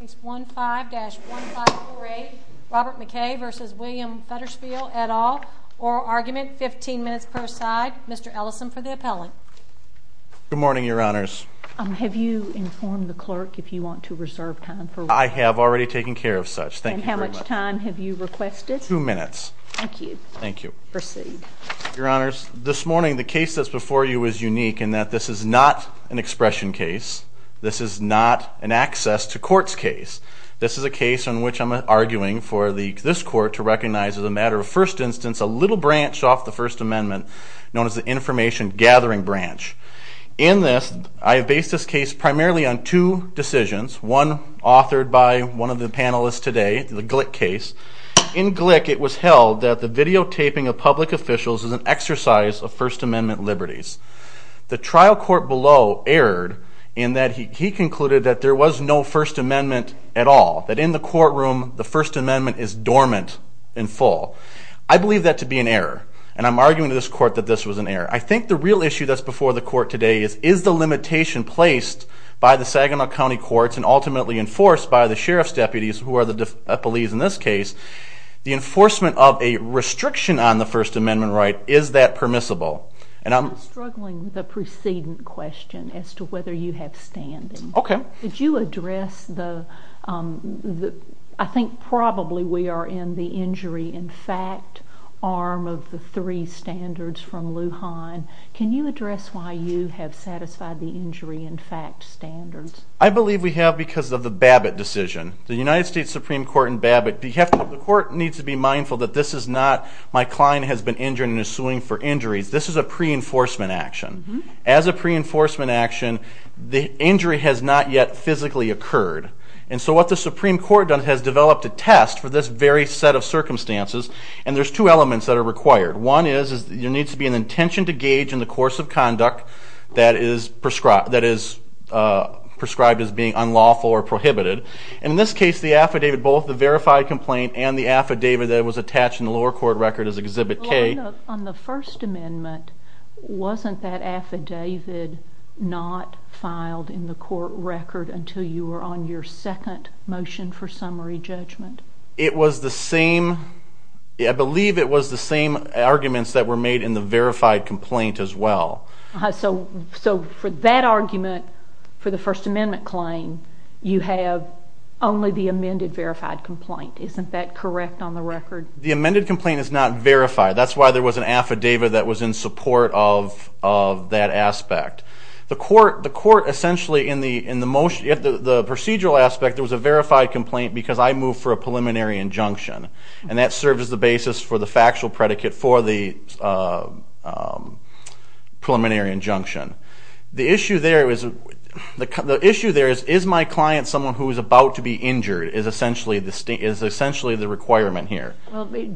Case 15-1548, Robert McKay v. William Federspiel et al. Oral argument, 15 minutes per side. Mr. Ellison for the appellant. Good morning, Your Honors. Have you informed the clerk if you want to reserve time for... I have already taken care of such. Thank you very much. And how much time have you requested? Two minutes. Thank you. Thank you. Proceed. Your Honors, this morning the case that's before you is unique in that this is not an expression case. This is not an access to courts case. This is a case in which I'm arguing for this court to recognize as a matter of first instance a little branch off the First Amendment known as the information gathering branch. In this, I have based this case primarily on two decisions, one authored by one of the panelists today, the Glick case. In Glick, it was held that the videotaping of public officials is an exercise of First Amendment liberties. The trial court below erred in that he concluded that there was no First Amendment at all, that in the courtroom the First Amendment is dormant and full. I believe that to be an error, and I'm arguing to this court that this was an error. I think the real issue that's before the court today is, is the limitation placed by the Saginaw County courts and ultimately enforced by the sheriff's deputies who are the police in this case, the enforcement of a restriction on the First Amendment right, is that permissible? I'm struggling with the preceding question as to whether you have standing. Okay. Did you address the, I think probably we are in the injury in fact arm of the three standards from Lujan. Can you address why you have satisfied the injury in fact standards? I believe we have because of the Babbitt decision. The United States Supreme Court in Babbitt, the court needs to be mindful that this is not, my client has been injured and is suing for injuries. This is a pre-enforcement action. As a pre-enforcement action, the injury has not yet physically occurred. And so what the Supreme Court has done is developed a test for this very set of circumstances, and there's two elements that are required. One is, there needs to be an intention to gauge in the course of conduct that is prescribed as being unlawful or prohibited. And in this case, the affidavit, both the verified complaint and the affidavit that was attached in the lower court record as Exhibit K. On the First Amendment, wasn't that affidavit not filed in the court record until you were on your second motion for summary judgment? It was the same, I believe it was the same arguments that were made in the verified complaint as well. So for that argument, for the First Amendment claim, you have only the amended verified complaint. Isn't that correct on the record? The amended complaint is not verified. That's why there was an affidavit that was in support of that aspect. The court essentially in the procedural aspect, there was a verified complaint because I moved for a preliminary injunction, and that served as the basis for the factual predicate for the preliminary injunction. The issue there is, is my client someone who is about to be injured is essentially the requirement here. Why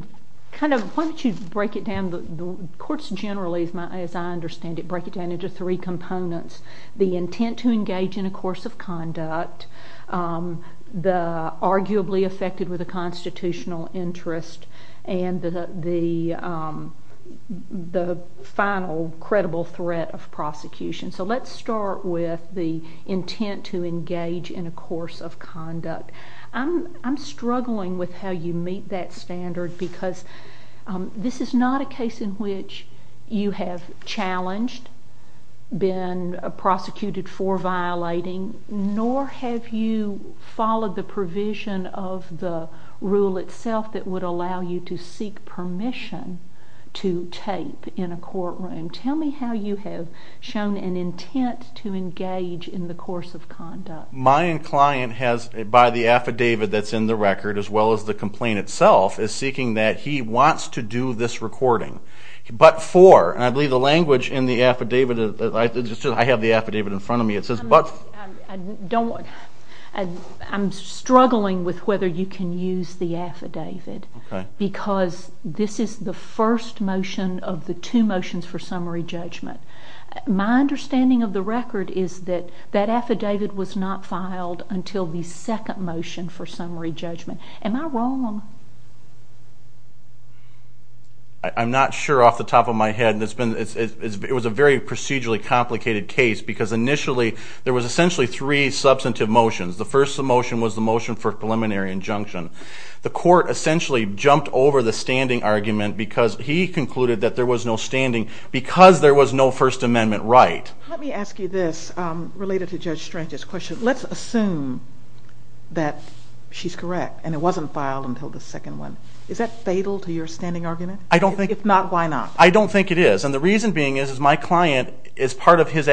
don't you break it down? Courts generally, as I understand it, break it down into three components. The intent to engage in a course of conduct, the arguably affected with a constitutional interest, and the final credible threat of prosecution. So let's start with the intent to engage in a course of conduct. I'm struggling with how you meet that standard because this is not a case in which you have challenged, been prosecuted for violating, nor have you followed the provision of the rule itself that would allow you to seek permission to tape in a courtroom. Tell me how you have shown an intent to engage in the course of conduct. My client has, by the affidavit that's in the record, as well as the complaint itself, is seeking that he wants to do this recording. But for, and I believe the language in the affidavit, I have the affidavit in front of me, it says but for. I'm struggling with whether you can use the affidavit because this is the first motion of the two motions for summary judgment. My understanding of the record is that that affidavit was not filed until the second motion for summary judgment. Am I wrong? I'm not sure off the top of my head. It was a very procedurally complicated case because initially there was essentially three substantive motions. The first motion was the motion for preliminary injunction. The court essentially jumped over the standing argument because he concluded that there was no standing because there was no First Amendment right. Let me ask you this related to Judge Strange's question. Let's assume that she's correct and it wasn't filed until the second one. Is that fatal to your standing argument? If not, why not? I don't think it is, and the reason being is my client, as part of his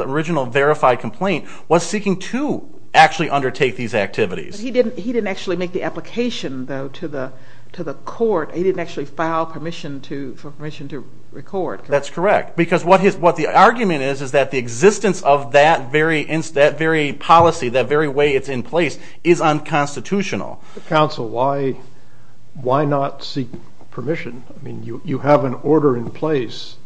original verified complaint, was seeking to actually undertake these activities. He didn't actually make the application, though, to the court. He didn't actually file permission to record. That's correct because what the argument is is that the existence of that very policy, that very way it's in place, is unconstitutional. Counsel, why not seek permission? You have an order in place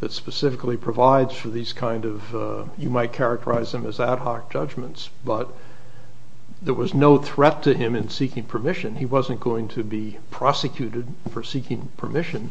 that specifically provides for these kind of, you might characterize them as ad hoc judgments, but there was no threat to him in seeking permission. He wasn't going to be prosecuted for seeking permission.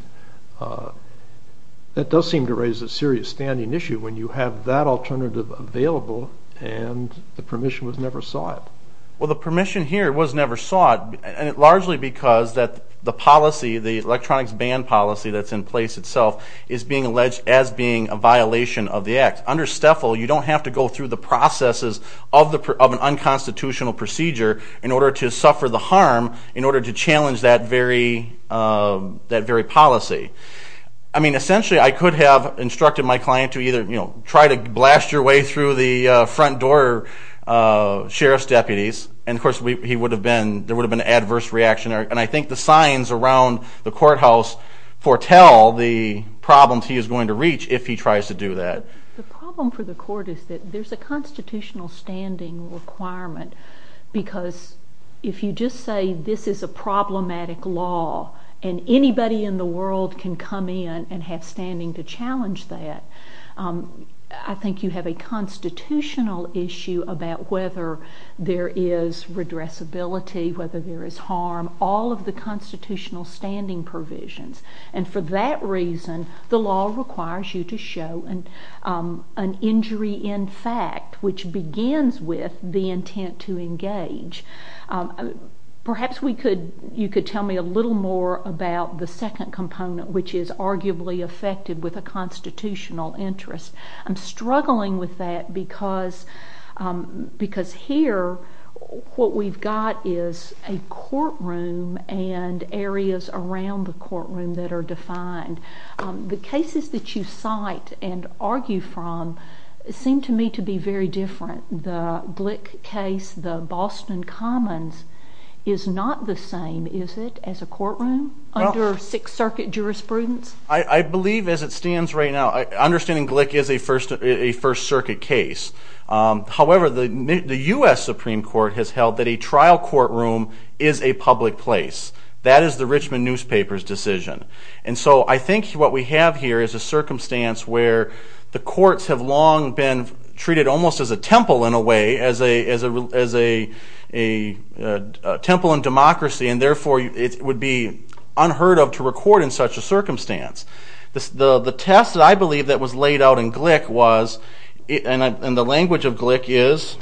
That does seem to raise a serious standing issue when you have that alternative available and the permission was never sought. Well, the permission here was never sought largely because the policy, the electronics ban policy that's in place itself, is being alleged as being a violation of the act. Under STFL, you don't have to go through the processes of an unconstitutional procedure in order to suffer the harm, in order to challenge that very policy. I mean, essentially, I could have instructed my client to either try to blast your way through the front door sheriff's deputies, and, of course, there would have been an adverse reaction, and I think the signs around the courthouse foretell the problems he is going to reach if he tries to do that. The problem for the court is that there's a constitutional standing requirement because if you just say this is a problematic law and anybody in the world can come in and have standing to challenge that, I think you have a constitutional issue about whether there is redressability, whether there is harm, all of the constitutional standing provisions. And for that reason, the law requires you to show an injury in fact, which begins with the intent to engage. Perhaps you could tell me a little more about the second component, which is arguably affected with a constitutional interest. I'm struggling with that because here what we've got is a courtroom and areas around the courtroom that are defined. The cases that you cite and argue from seem to me to be very different. The Glick case, the Boston Commons is not the same, is it, as a courtroom under Sixth Circuit jurisprudence? I believe as it stands right now, understanding Glick is a First Circuit case. However, the U.S. Supreme Court has held that a trial courtroom is a public place. That is the Richmond newspaper's decision. And so I think what we have here is a circumstance where the courts have long been treated almost as a temple in a way, as a temple in democracy, and therefore it would be unheard of to record in such a circumstance. The test that I believe that was laid out in Glick was, and the language of Glick is,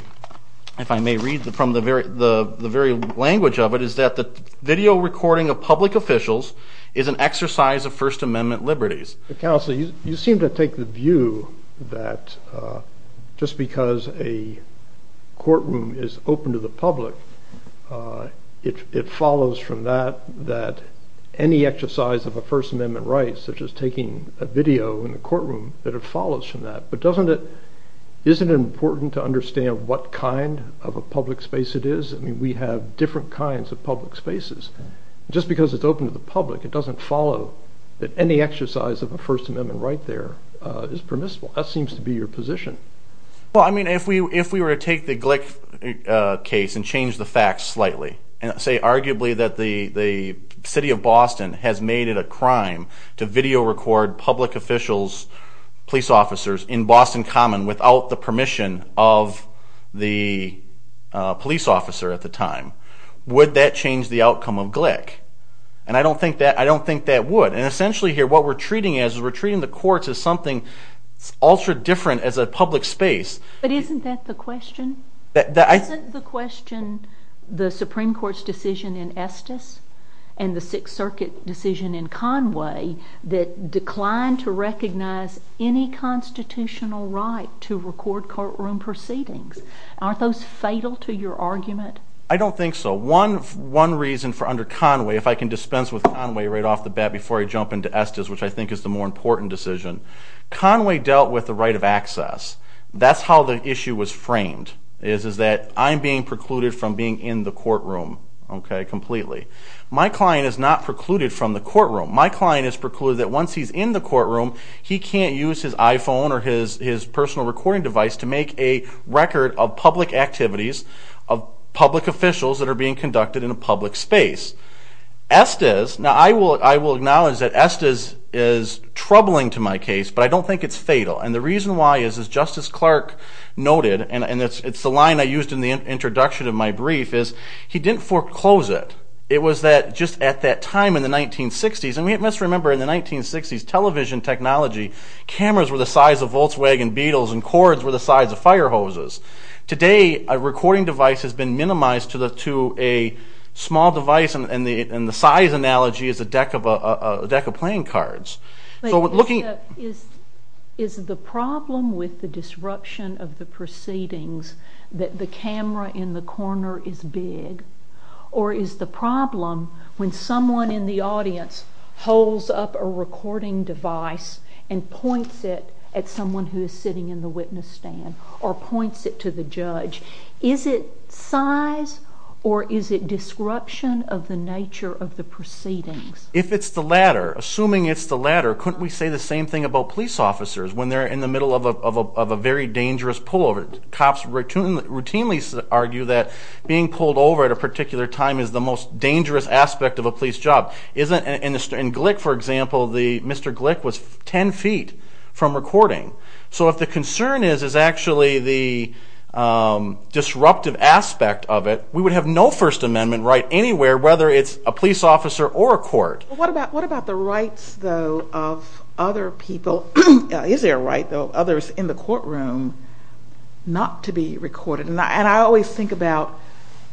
if I may read from the very language of it, is that the video recording of public officials is an exercise of First Amendment liberties. Counsel, you seem to take the view that just because a courtroom is open to the public, it follows from that that any exercise of a First Amendment right, such as taking a video in the courtroom, that it follows from that. But isn't it important to understand what kind of a public space it is? I mean, we have different kinds of public spaces. Just because it's open to the public, it doesn't follow that any exercise of a First Amendment right there is permissible. That seems to be your position. Well, I mean, if we were to take the Glick case and change the facts slightly and say arguably that the city of Boston has made it a crime to video record public officials, police officers, in Boston Common without the permission of the police officer at the time, would that change the outcome of Glick? And I don't think that would. And essentially here what we're treating it as is we're treating the courts as something ultra-different as a public space. But isn't that the question? Isn't the question the Supreme Court's decision in Estes and the Sixth Circuit decision in Conway that declined to recognize any constitutional right to record courtroom proceedings? Aren't those fatal to your argument? I don't think so. One reason for under Conway, if I can dispense with Conway right off the bat before I jump into Estes, which I think is the more important decision, Conway dealt with the right of access. That's how the issue was framed is that I'm being precluded from being in the courtroom completely. My client is not precluded from the courtroom. My client is precluded that once he's in the courtroom he can't use his iPhone or his personal recording device to make a record of public activities, of public officials that are being conducted in a public space. Estes, now I will acknowledge that Estes is troubling to my case, but I don't think it's fatal. And the reason why is, as Justice Clark noted, and it's the line I used in the introduction of my brief, is he didn't foreclose it. It was just at that time in the 1960s, and we must remember in the 1960s, television technology, cameras were the size of Volkswagen Beetles and cords were the size of fire hoses. Today, a recording device has been minimized to a small device, and the size analogy is a deck of playing cards. Is the problem with the disruption of the proceedings that the camera in the corner is big, or is the problem when someone in the audience holds up a recording device and points it at someone who is sitting in the witness stand or points it to the judge, is it size or is it disruption of the nature of the proceedings? If it's the latter, assuming it's the latter, couldn't we say the same thing about police officers when they're in the middle of a very dangerous pullover? Cops routinely argue that being pulled over at a particular time is the most dangerous aspect of a police job. In Glick, for example, Mr. Glick was 10 feet from recording. So if the concern is actually the disruptive aspect of it, we would have no First Amendment right anywhere, whether it's a police officer or a court. What about the rights, though, of other people? Is there a right, though, of others in the courtroom not to be recorded? And I always think about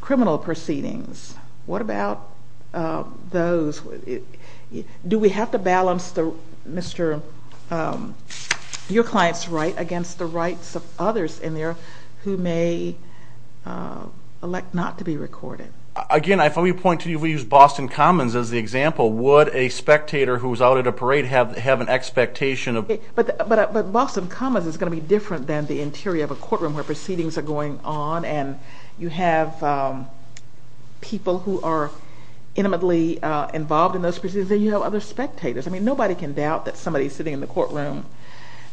criminal proceedings. What about those? Do we have to balance your client's right against the rights of others in there who may elect not to be recorded? Again, if we point to you, if we use Boston Commons as the example, would a spectator who's out at a parade have an expectation of... But Boston Commons is going to be different than the interior of a courtroom where proceedings are going on and you have people who are intimately involved in those proceedings and you have other spectators. I mean, nobody can doubt that somebody sitting in the courtroom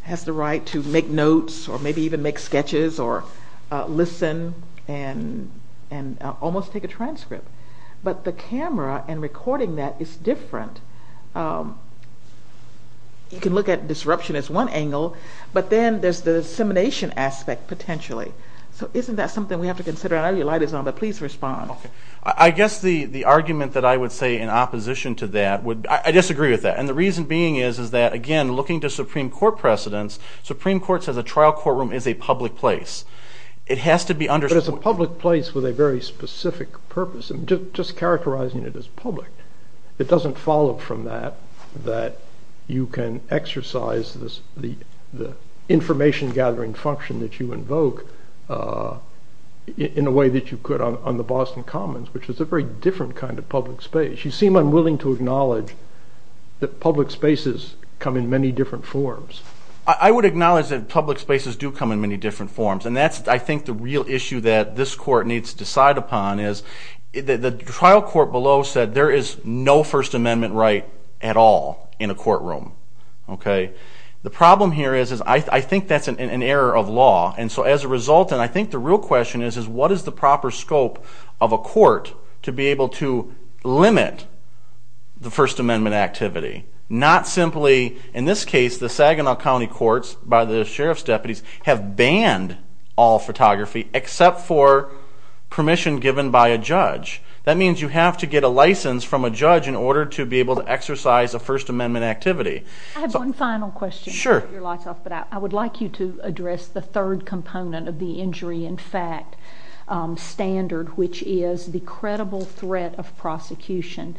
has the right to make notes or maybe even make sketches or listen and almost take a transcript. But the camera and recording that is different. You can look at disruption as one angle, but then there's the dissemination aspect potentially. So isn't that something we have to consider? I know your light is on, but please respond. I guess the argument that I would say in opposition to that would be... I disagree with that. And the reason being is that, again, looking to Supreme Court precedents, Supreme Court says a trial courtroom is a public place. It has to be understood... But it's a public place with a very specific purpose. I'm just characterizing it as public. It doesn't follow from that that you can exercise the information-gathering function that you invoke in a way that you could on the Boston Commons, which is a very different kind of public space. You seem unwilling to acknowledge that public spaces come in many different forms. I would acknowledge that public spaces do come in many different forms, and that's, I think, the real issue that this court needs to decide upon is the trial court below said there is no First Amendment right at all in a courtroom. The problem here is I think that's an error of law. And so as a result, and I think the real question is, what is the proper scope of a court to be able to limit the First Amendment activity? Not simply, in this case, the Saginaw County Courts, by the sheriff's deputies, have banned all photography except for permission given by a judge. That means you have to get a license from a judge in order to be able to exercise a First Amendment activity. I have one final question. Sure. I would like you to address the third component of the injury in fact standard, which is the credible threat of prosecution.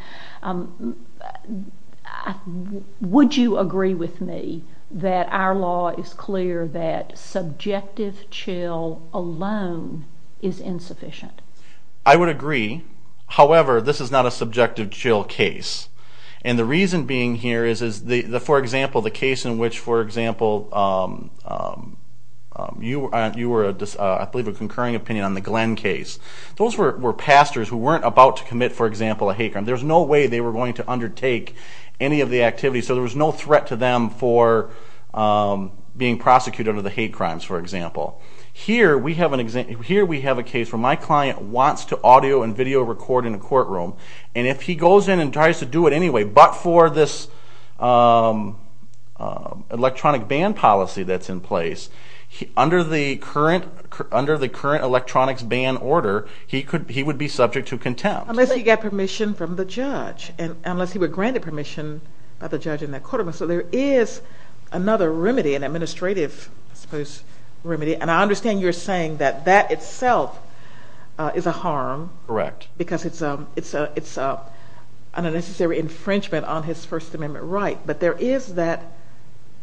Would you agree with me that our law is clear that subjective chill alone is insufficient? I would agree. However, this is not a subjective chill case. And the reason being here is, for example, the case in which, for example, you were, I believe, a concurring opinion on the Glenn case. Those were pastors who weren't about to commit, for example, a hate crime. There was no way they were going to undertake any of the activities, so there was no threat to them for being prosecuted under the hate crimes, for example. Here we have a case where my client wants to audio and video record in a courtroom, and if he goes in and tries to do it anyway, but for this electronic ban policy that's in place, under the current electronics ban order, he would be subject to contempt. Unless he got permission from the judge, and unless he were granted permission by the judge in that courtroom. And I understand you're saying that that itself is a harm. Correct. Because it's an unnecessary infringement on his First Amendment right. But there is that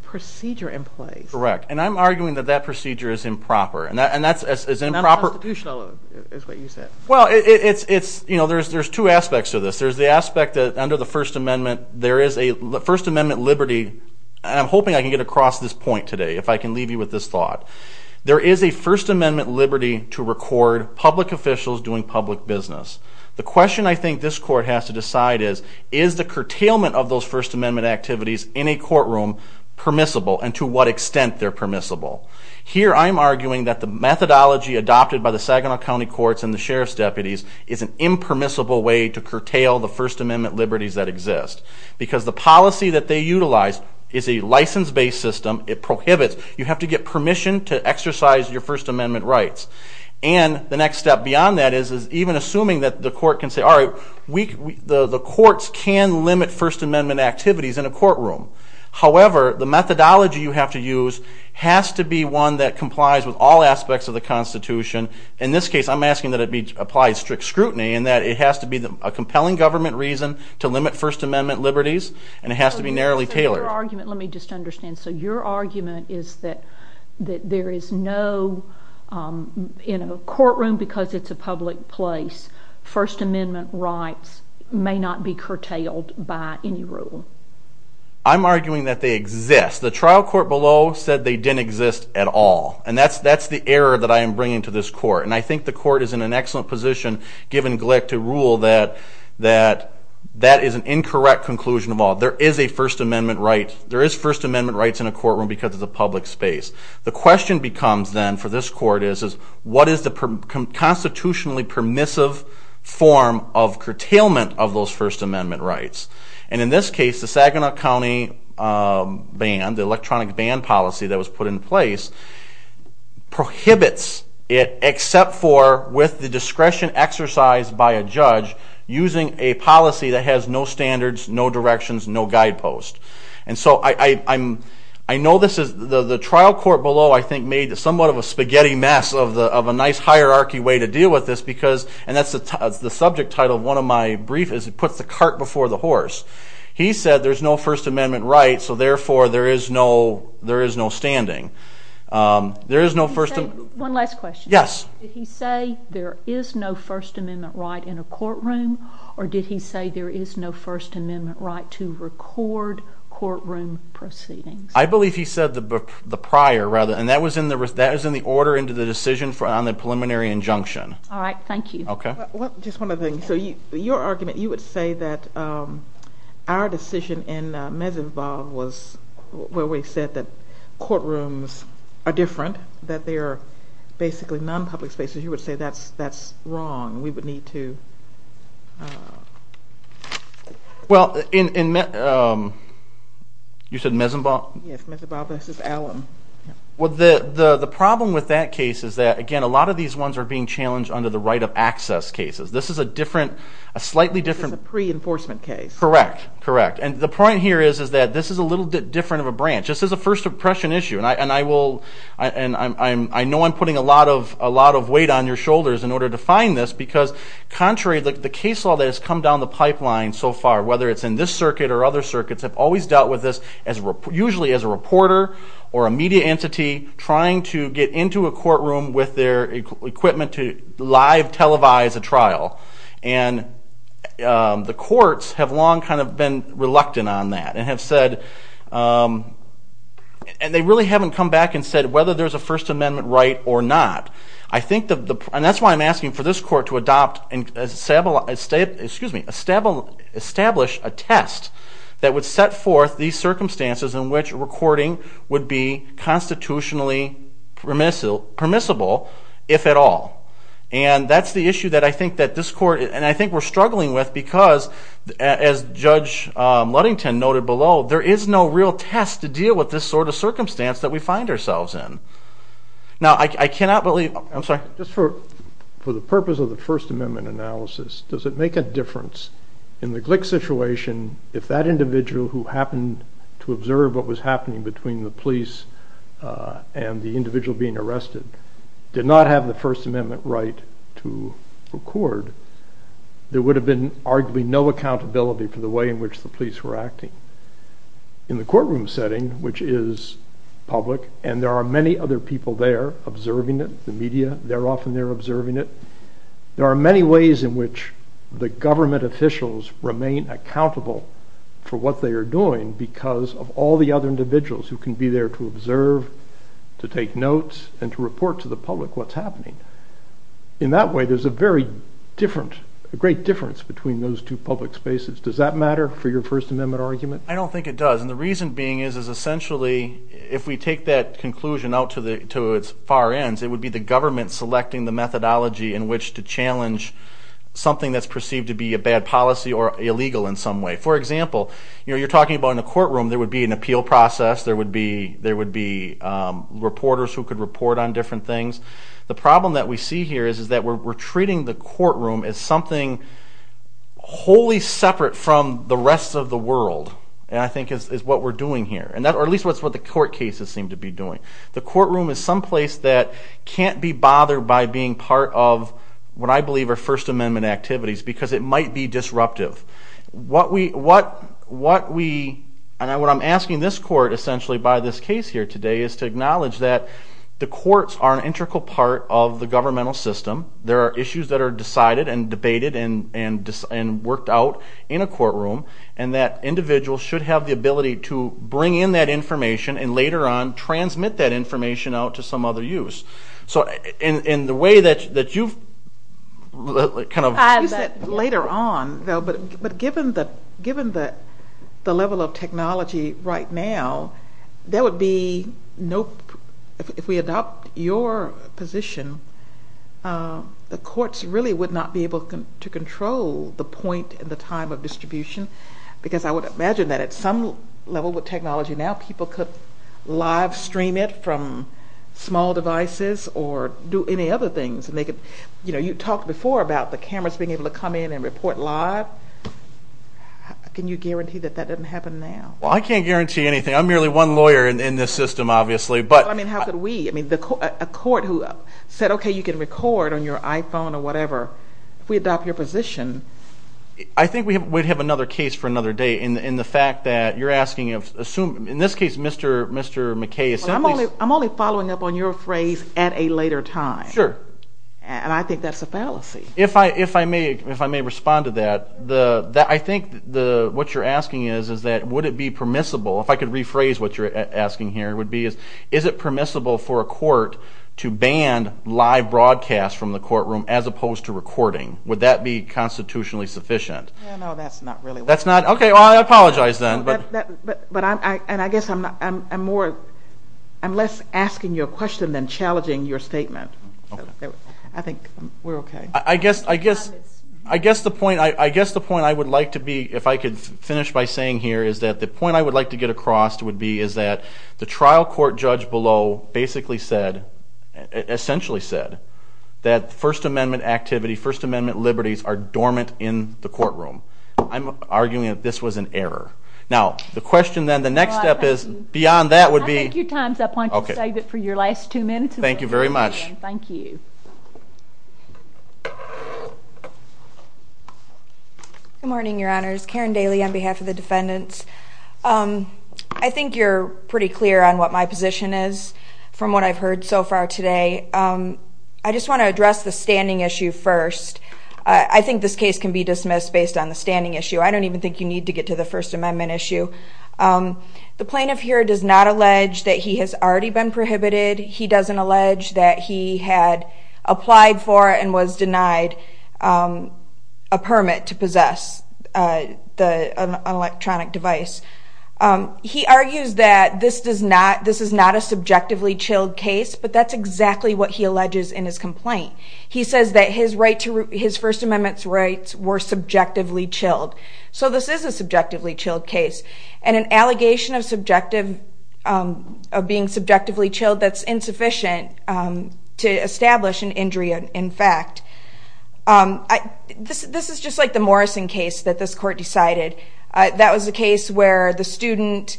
procedure in place. Correct. And I'm arguing that that procedure is improper. Not constitutional is what you said. Well, there's two aspects to this. There's the aspect that under the First Amendment, there is a First Amendment liberty, and I'm hoping I can get across this point today, if I can leave you with this thought. There is a First Amendment liberty to record public officials doing public business. The question I think this court has to decide is, is the curtailment of those First Amendment activities in a courtroom permissible, and to what extent they're permissible. Here I'm arguing that the methodology adopted by the Saginaw County Courts and the Sheriff's deputies is an impermissible way to curtail the First Amendment liberties that exist. Because the policy that they utilize is a license-based system. It prohibits. You have to get permission to exercise your First Amendment rights. And the next step beyond that is even assuming that the court can say, all right, the courts can limit First Amendment activities in a courtroom. However, the methodology you have to use has to be one that complies with all aspects of the Constitution. In this case, I'm asking that it be applied strict scrutiny in that it has to be a compelling government reason to limit First Amendment liberties, and it has to be narrowly tailored. Let me just understand. So your argument is that there is no, in a courtroom, because it's a public place, First Amendment rights may not be curtailed by any rule. I'm arguing that they exist. The trial court below said they didn't exist at all. And that's the error that I am bringing to this court. And I think the court is in an excellent position, given Glick, to rule that that is an incorrect conclusion of all. There is a First Amendment right. There is First Amendment rights in a courtroom because it's a public space. The question becomes then for this court is, what is the constitutionally permissive form of curtailment of those First Amendment rights? And in this case, the Saginaw County ban, the electronic ban policy that was put in place, prohibits it, except for with the discretion exercised by a judge, using a policy that has no standards, no directions, no guidepost. And so I know this is, the trial court below, I think, made somewhat of a spaghetti mess of a nice hierarchy way to deal with this, because, and that's the subject title of one of my briefs, is it puts the cart before the horse. He said there's no First Amendment right, so therefore there is no standing. There is no First Amendment. One last question. Yes. Did he say there is no First Amendment right in a courtroom, or did he say there is no First Amendment right to record courtroom proceedings? I believe he said the prior, rather, and that was in the order into the decision on the preliminary injunction. All right, thank you. Okay. Just one other thing. So your argument, you would say that our decision in Mesinvah was where we said that courtrooms are different, that they are basically non-public spaces. You would say that's wrong and we would need to. Well, in, you said Mesinvah? Yes, Mesinvah v. Allam. Well, the problem with that case is that, again, a lot of these ones are being challenged under the right of access cases. This is a different, a slightly different. This is a pre-enforcement case. Correct, correct. And the point here is that this is a little bit different of a branch. This is a first impression issue, and I know I'm putting a lot of weight on your shoulders in order to find this because contrary to the case law that has come down the pipeline so far, whether it's in this circuit or other circuits, I've always dealt with this usually as a reporter or a media entity trying to get into a courtroom with their equipment to live televise a trial. And the courts have long kind of been reluctant on that and have said, and they really haven't come back and said whether there's a First Amendment right or not. I think, and that's why I'm asking for this court to adopt, excuse me, establish a test that would set forth these circumstances in which recording would be constitutionally permissible, if at all. And that's the issue that I think that this court, and I think we're struggling with because, as Judge Ludington noted below, there is no real test to deal with this sort of circumstance that we find ourselves in. Now, I cannot believe, I'm sorry. Just for the purpose of the First Amendment analysis, does it make a difference in the Glick situation if that individual who happened to observe what was happening between the police and the individual being arrested did not have the First Amendment right to record? There would have been arguably no accountability for the way in which the police were acting. In the courtroom setting, which is public, and there are many other people there observing it, the media, they're often there observing it, there are many ways in which the government officials remain accountable for what they are doing because of all the other individuals who can be there to observe, to take notes, and to report to the public what's happening. In that way, there's a very different, a great difference between those two public spaces. Does that matter for your First Amendment argument? I don't think it does, and the reason being is essentially if we take that conclusion out to its far ends, it would be the government selecting the methodology in which to challenge something that's perceived to be a bad policy or illegal in some way. For example, you're talking about in a courtroom there would be an appeal process, there would be reporters who could report on different things. The problem that we see here is that we're treating the courtroom as something wholly separate from the rest of the world, and I think is what we're doing here, or at least that's what the court cases seem to be doing. The courtroom is someplace that can't be bothered by being part of what I believe are First Amendment activities because it might be disruptive. What I'm asking this court essentially by this case here today is to acknowledge that the courts are an integral part of the governmental system. There are issues that are decided and debated and worked out in a courtroom, and that individuals should have the ability to bring in that information and later on transmit that information out to some other use. In the way that you've kind of... You said later on, but given the level of technology right now, there would be no... If we adopt your position, the courts really would not be able to control the point and the time of distribution because I would imagine that at some level with technology now people could live stream it from small devices or do any other things. You talked before about the cameras being able to come in and report live. Can you guarantee that that doesn't happen now? I can't guarantee anything. I'm merely one lawyer in this system, obviously. How could we? A court who said, okay, you can record on your iPhone or whatever, if we adopt your position... I think we'd have another case for another day in the fact that you're asking... In this case, Mr. McKay... I'm only following up on your phrase at a later time. Sure. And I think that's a fallacy. If I may respond to that, I think what you're asking is that would it be permissible, if I could rephrase what you're asking here, is it permissible for a court to ban live broadcast from the courtroom as opposed to recording? Would that be constitutionally sufficient? No, that's not really what... Okay, I apologize then. But I guess I'm less asking you a question than challenging your statement. I think we're okay. I guess the point I would like to be, if I could finish by saying here, is that the point I would like to get across would be is that the trial court judge below basically said, essentially said, that First Amendment activity, First Amendment liberties are dormant in the courtroom. I'm arguing that this was an error. Now, the question then, the next step is, beyond that would be... Thank you, Tom. I want you to save it for your last two minutes. Thank you very much. Thank you. Good morning, Your Honors. Karen Daly on behalf of the defendants. I think you're pretty clear on what my position is from what I've heard so far today. I just want to address the standing issue first. I think this case can be dismissed based on the standing issue. I don't even think you need to get to the First Amendment issue. The plaintiff here does not allege that he has already been prohibited. He doesn't allege that he had applied for and was denied a permit to possess an electronic device. He argues that this is not a subjectively chilled case, but that's exactly what he alleges in his complaint. He says that his First Amendment rights were subjectively chilled. So this is a subjectively chilled case, and an allegation of being subjectively chilled, that's insufficient to establish an injury in fact. This is just like the Morrison case that this court decided. That was a case where the student,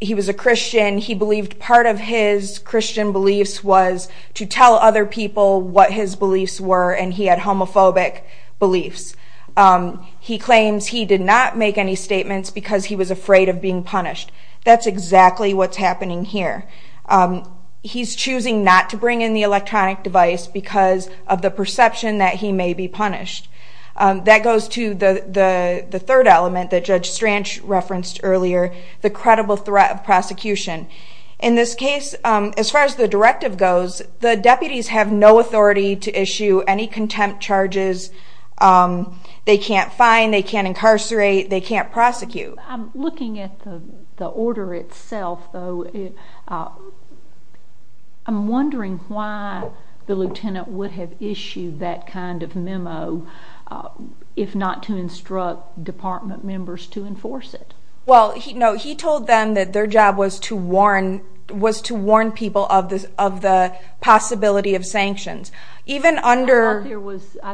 he was a Christian. He believed part of his Christian beliefs was to tell other people what his beliefs were, and he had homophobic beliefs. He claims he did not make any statements because he was afraid of being punished. That's exactly what's happening here. He's choosing not to bring in the electronic device because of the perception that he may be punished. That goes to the third element that Judge Stranch referenced earlier, the credible threat of prosecution. In this case, as far as the directive goes, the deputies have no authority to issue any contempt charges. They can't fine, they can't incarcerate, they can't prosecute. I'm looking at the order itself, though. I'm wondering why the lieutenant would have issued that kind of memo if not to instruct department members to enforce it. He told them that their job was to warn people of the possibility of sanctions. I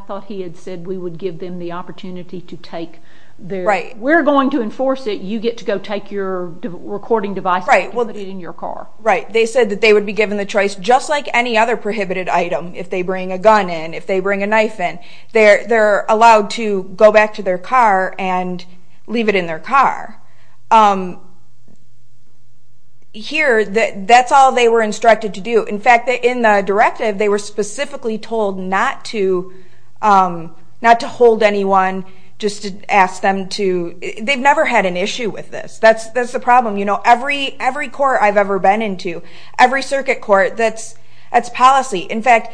thought he had said we would give them the opportunity to take their... We're going to enforce it, you get to go take your recording device and put it in your car. They said that they would be given the choice, just like any other prohibited item, if they bring a gun in, if they bring a knife in, they're allowed to go back to their car and leave it in their car. Here, that's all they were instructed to do. In fact, in the directive, they were specifically told not to hold anyone, just to ask them to... They've never had an issue with this. That's the problem. Every court I've ever been into, every circuit court, that's policy. In fact,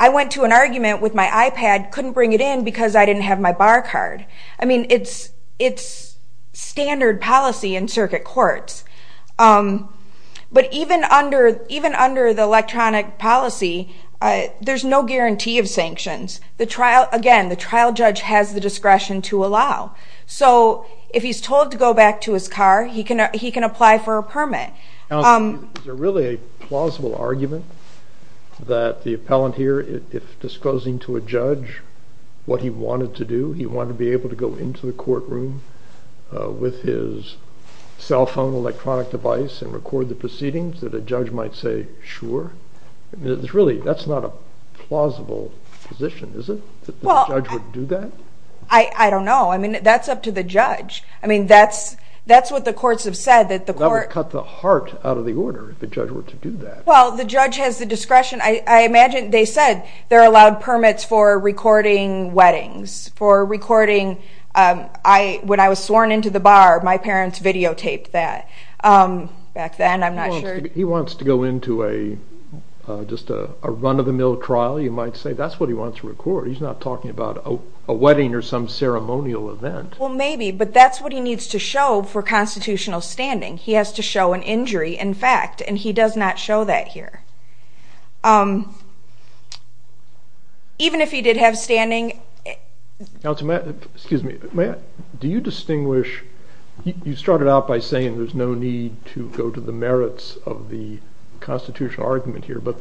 I went to an argument with my iPad, couldn't bring it in because I didn't have my bar card. It's standard policy in circuit courts. But even under the electronic policy, there's no guarantee of sanctions. Again, the trial judge has the discretion to allow. If he's told to go back to his car, he can apply for a permit. Is there really a plausible argument that the appellant here, if disclosing to a judge what he wanted to do, he wanted to be able to go into the courtroom with his cell phone, electronic device, and record the proceedings, that a judge might say, sure? Really, that's not a plausible position, is it, that the judge would do that? I don't know. I mean, that's up to the judge. I mean, that's what the courts have said. That would cut the heart out of the order if the judge were to do that. Well, the judge has the discretion. I imagine they said there are allowed permits for recording weddings, for recording when I was sworn into the bar, my parents videotaped that. Back then, I'm not sure. He wants to go into just a run-of-the-mill trial, you might say. That's what he wants to record. He's not talking about a wedding or some ceremonial event. Well, maybe, but that's what he needs to show for constitutional standing. He has to show an injury in fact, and he does not show that here. Even if he did have standing. Excuse me. Do you distinguish? You started out by saying there's no need to go to the merits of the constitutional argument here. But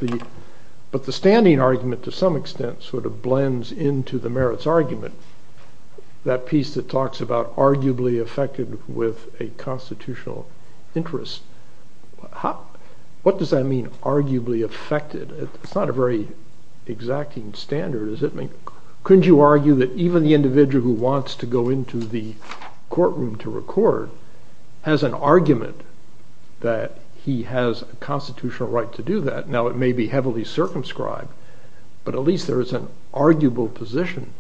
the standing argument, to some extent, sort of blends into the merits argument, that piece that talks about arguably affected with a constitutional interest. What does that mean, arguably affected? It's not a very exacting standard, is it? Couldn't you argue that even the individual who wants to go into the courtroom to record has an argument that he has a constitutional right to do that? Now, it may be heavily circumscribed, but at least there is an arguable position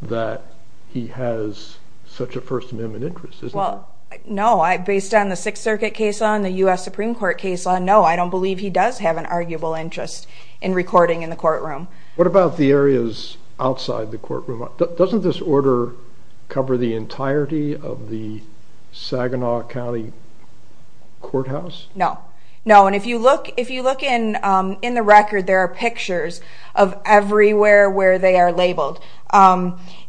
that he has such a First Amendment interest, isn't there? No. Based on the Sixth Circuit case law and the U.S. Supreme Court case law, no, I don't believe he does have an arguable interest in recording in the courtroom. What about the areas outside the courtroom? Doesn't this order cover the entirety of the Saginaw County Courthouse? No. No, and if you look in the record, there are pictures of everywhere where they are labeled.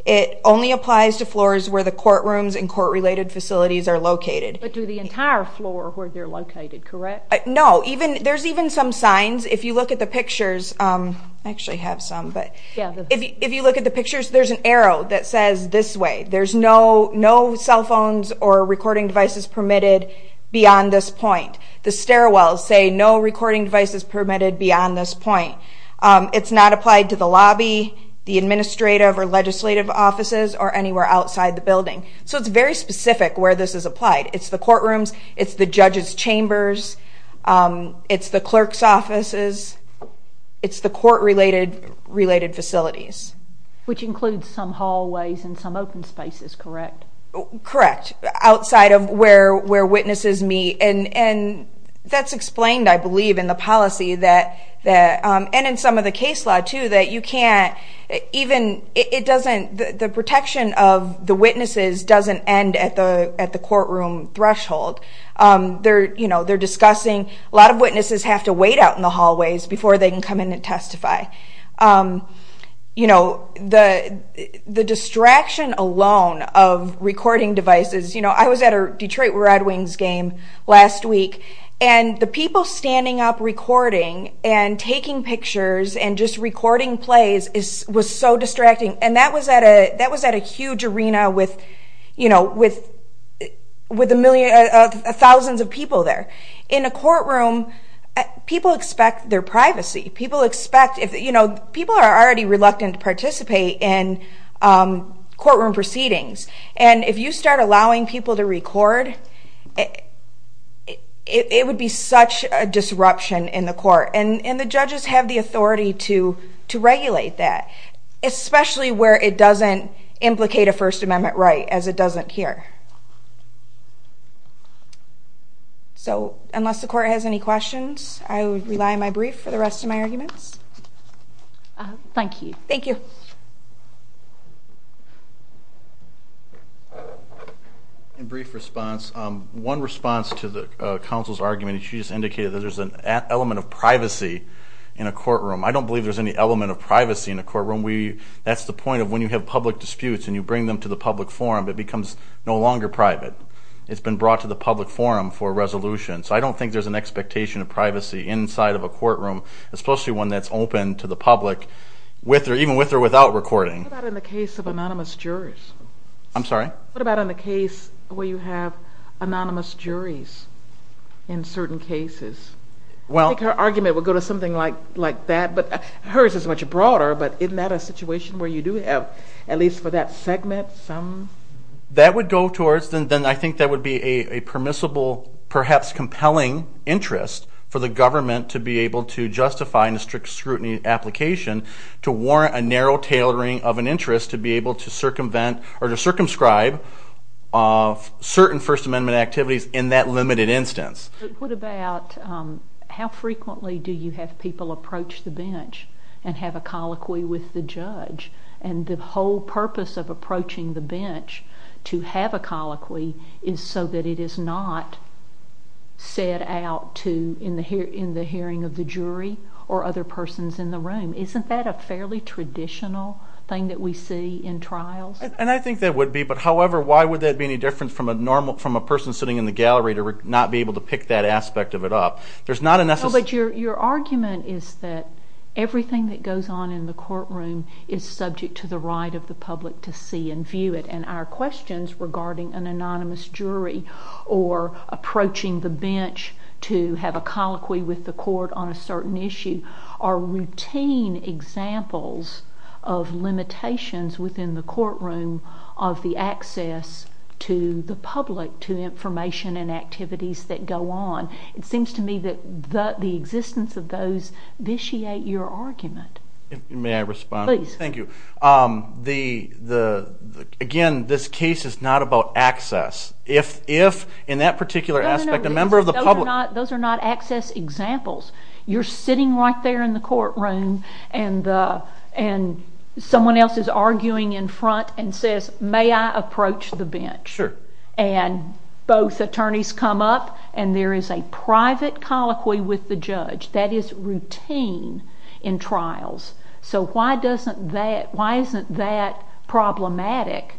It only applies to floors where the courtrooms and court-related facilities are located. But to the entire floor where they're located, correct? No. There's even some signs. If you look at the pictures, I actually have some, but if you look at the pictures, there's an arrow that says this way, there's no cell phones or recording devices permitted beyond this point. The stairwells say no recording devices permitted beyond this point. It's not applied to the lobby, the administrative or legislative offices, or anywhere outside the building. So it's very specific where this is applied. It's the courtrooms. It's the judges' chambers. It's the clerk's offices. It's the court-related facilities. Which includes some hallways and some open spaces, correct? Correct, outside of where witnesses meet. That's explained, I believe, in the policy and in some of the case law, too, that you can't even, it doesn't, the protection of the witnesses doesn't end at the courtroom threshold. They're discussing, a lot of witnesses have to wait out in the hallways before they can come in and testify. The distraction alone of recording devices, I was at a Detroit Red Wings game last week, and the people standing up recording and taking pictures and just recording plays was so distracting. And that was at a huge arena with thousands of people there. In a courtroom, people expect their privacy. People are already reluctant to participate in courtroom proceedings. And if you start allowing people to record, it would be such a disruption in the court. And the judges have the authority to regulate that, especially where it doesn't implicate a First Amendment right, as it doesn't here. Unless the court has any questions, I would rely on my brief for the rest of my arguments. Thank you. Thank you. In brief response, one response to the counsel's argument, she just indicated that there's an element of privacy in a courtroom. I don't believe there's any element of privacy in a courtroom. That's the point of when you have public disputes and you bring them to the public forum, it becomes no longer private. It's been brought to the public forum for resolution. So I don't think there's an expectation of privacy inside of a courtroom, especially one that's open to the public, even with or without recording. What about in the case of anonymous jurors? I'm sorry? What about in the case where you have anonymous juries in certain cases? I think her argument would go to something like that, but hers is much broader. But isn't that a situation where you do have, at least for that segment, some? That would go towards, then I think that would be a permissible, perhaps compelling interest for the government to be able to justify in a strict scrutiny application to warrant a narrow tailoring of an interest to be able to circumvent or to circumscribe certain First Amendment activities in that limited instance. What about how frequently do you have people approach the bench and have a colloquy with the judge? And the whole purpose of approaching the bench to have a colloquy is so that it is not said out in the hearing of the jury or other persons in the room. Isn't that a fairly traditional thing that we see in trials? And I think that would be, but however, why would that be any different from a person sitting in the gallery to not be able to pick that aspect of it up? There's not a necessity. No, but your argument is that everything that goes on in the courtroom is subject to the right of the public to see and view it, and our questions regarding an anonymous jury or approaching the bench to have a colloquy with the court on a certain issue are routine examples of limitations within the courtroom of the access to the public to information and activities that go on. It seems to me that the existence of those vitiate your argument. May I respond? Please. Thank you. Again, this case is not about access. If in that particular aspect a member of the public... No, no, no. Those are not access examples. You're sitting right there in the courtroom, and someone else is arguing in front and says, may I approach the bench? Sure. And both attorneys come up, and there is a private colloquy with the judge. That is routine in trials. So why isn't that problematic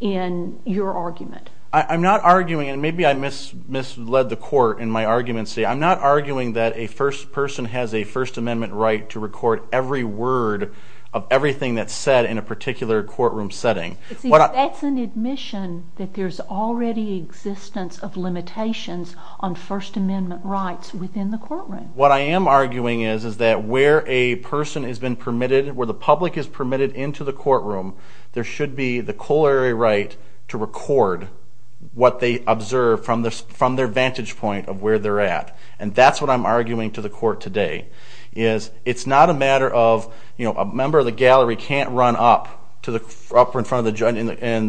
in your argument? I'm not arguing, and maybe I misled the court in my argument. I'm not arguing that a person has a First Amendment right to record every word of everything that's said in a particular courtroom setting. That's an admission that there's already existence of limitations on First Amendment rights within the courtroom. What I am arguing is that where a person has been permitted, where the public is permitted into the courtroom, there should be the corollary right to record what they observe from their vantage point of where they're at. And that's what I'm arguing to the court today, is it's not a matter of a member of the gallery can't run up in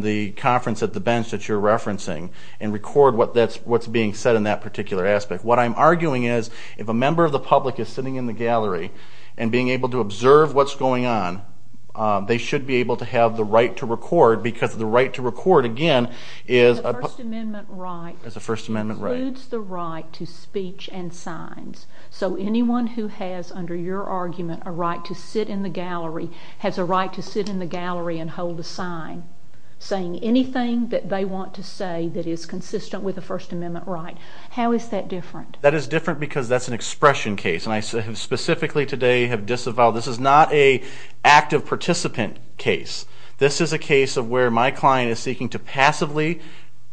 the conference at the bench that you're referencing and record what's being said in that particular aspect. What I'm arguing is if a member of the public is sitting in the gallery and being able to observe what's going on, they should be able to have the right to record because the right to record, again, is a First Amendment right. It's a First Amendment right. It includes the right to speech and signs. So anyone who has, under your argument, a right to sit in the gallery has a right to sit in the gallery and hold a sign saying anything that they want to say that is consistent with a First Amendment right. How is that different? That is different because that's an expression case, and I specifically today have disavowed. This is not an active participant case. This is a case of where my client is seeking to passively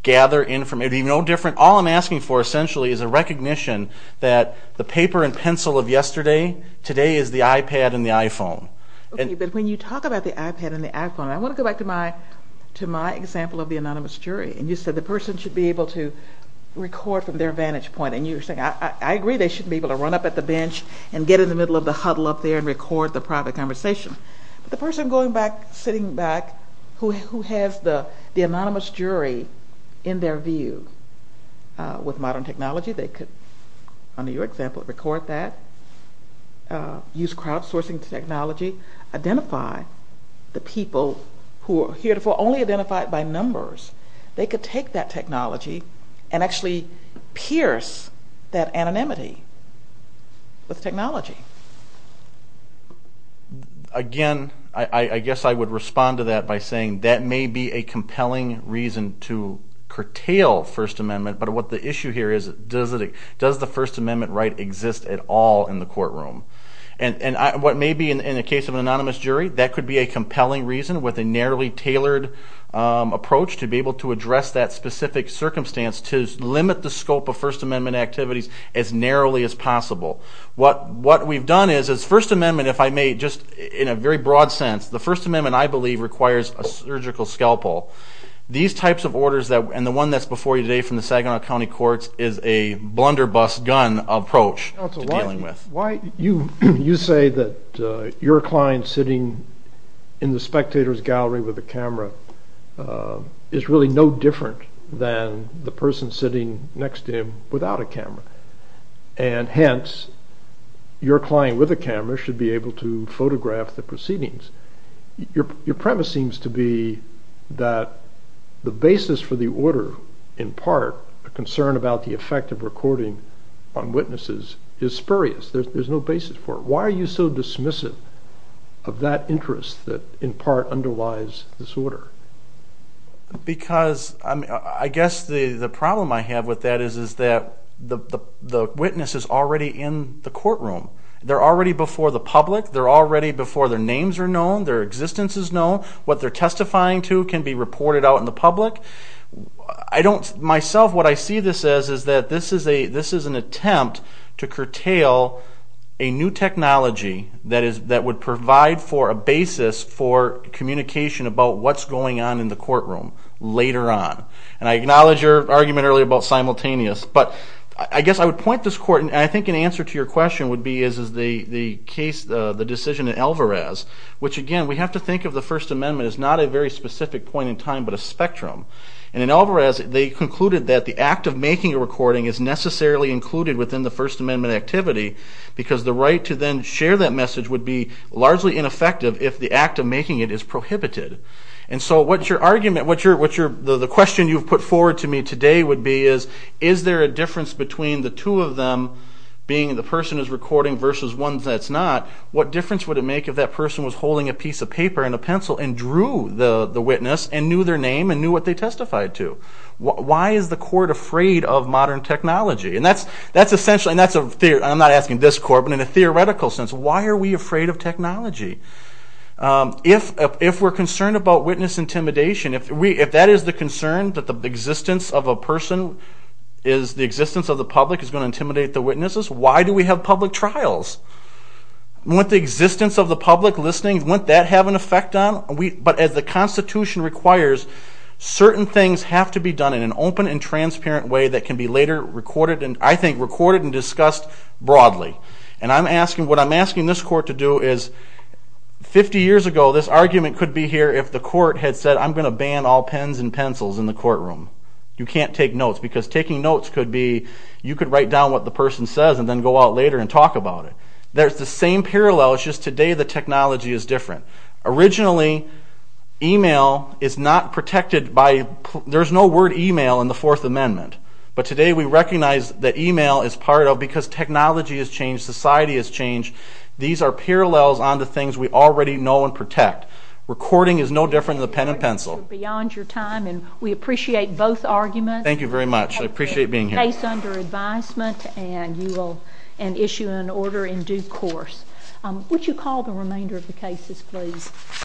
gather information. All I'm asking for, essentially, is a recognition that the paper and pencil of yesterday, today is the iPad and the iPhone. But when you talk about the iPad and the iPhone, I want to go back to my example of the anonymous jury. You said the person should be able to record from their vantage point, and you were saying, I agree they should be able to run up at the bench and get in the middle of the huddle up there and record the private conversation. But the person going back, sitting back, who has the anonymous jury in their view with modern technology, they could, under your example, record that, use crowdsourcing technology, identify the people who are heretofore only identified by numbers. They could take that technology and actually pierce that anonymity with technology. Again, I guess I would respond to that by saying that may be a compelling reason to curtail First Amendment, but what the issue here is, does the First Amendment right exist at all in the courtroom? And what may be, in the case of an anonymous jury, that could be a compelling reason with a narrowly tailored approach to be able to address that specific circumstance to limit the scope of First Amendment activities as narrowly as possible. What we've done is, First Amendment, if I may, just in a very broad sense, the First Amendment, I believe, requires a surgical scalpel. These types of orders, and the one that's before you today from the Saginaw County Courts, is a blunderbuss gun approach to dealing with. You say that your client sitting in the spectator's gallery with a camera is really no different than the person sitting next to him without a camera, and hence your client with a camera should be able to photograph the proceedings. Your premise seems to be that the basis for the order, there's no basis for it. Why are you so dismissive of that interest that in part underlies this order? Because I guess the problem I have with that is that the witness is already in the courtroom. They're already before the public. They're already before their names are known, their existence is known. What they're testifying to can be reported out in the public. Myself, what I see this as is that this is an attempt to curtail a new technology that would provide for a basis for communication about what's going on in the courtroom later on. And I acknowledge your argument earlier about simultaneous, but I guess I would point this court, and I think an answer to your question would be is the decision in Alvarez, which, again, we have to think of the First Amendment as not a very specific point in time, but a spectrum. And in Alvarez, they concluded that the act of making a recording is necessarily included within the First Amendment activity because the right to then share that message would be largely ineffective if the act of making it is prohibited. And so what your argument, the question you've put forward to me today would be is is there a difference between the two of them, being the person who's recording versus one that's not, what difference would it make if that person was holding a piece of paper and a pencil and drew the witness and knew their name and knew what they testified to? Why is the court afraid of modern technology? And that's essentially, and I'm not asking this court, but in a theoretical sense, why are we afraid of technology? If we're concerned about witness intimidation, if that is the concern, that the existence of a person, the existence of the public is going to intimidate the witnesses, why do we have public trials? Won't the existence of the public listening, won't that have an effect on it? But as the Constitution requires, certain things have to be done in an open and transparent way that can be later recorded and, I think, recorded and discussed broadly. And I'm asking, what I'm asking this court to do is, 50 years ago, this argument could be here if the court had said, I'm going to ban all pens and pencils in the courtroom. You can't take notes because taking notes could be, you could write down what the person says and then go out later and talk about it. There's the same parallel, it's just today the technology is different. Originally, e-mail is not protected by, there's no word e-mail in the Fourth Amendment. But today we recognize that e-mail is part of, because technology has changed, society has changed, these are parallels onto things we already know and protect. Recording is no different than the pen and pencil. We appreciate both arguments. Thank you very much. I appreciate being here. The case under advisement and you will issue an order in due course. Would you call the remainder of the cases, please?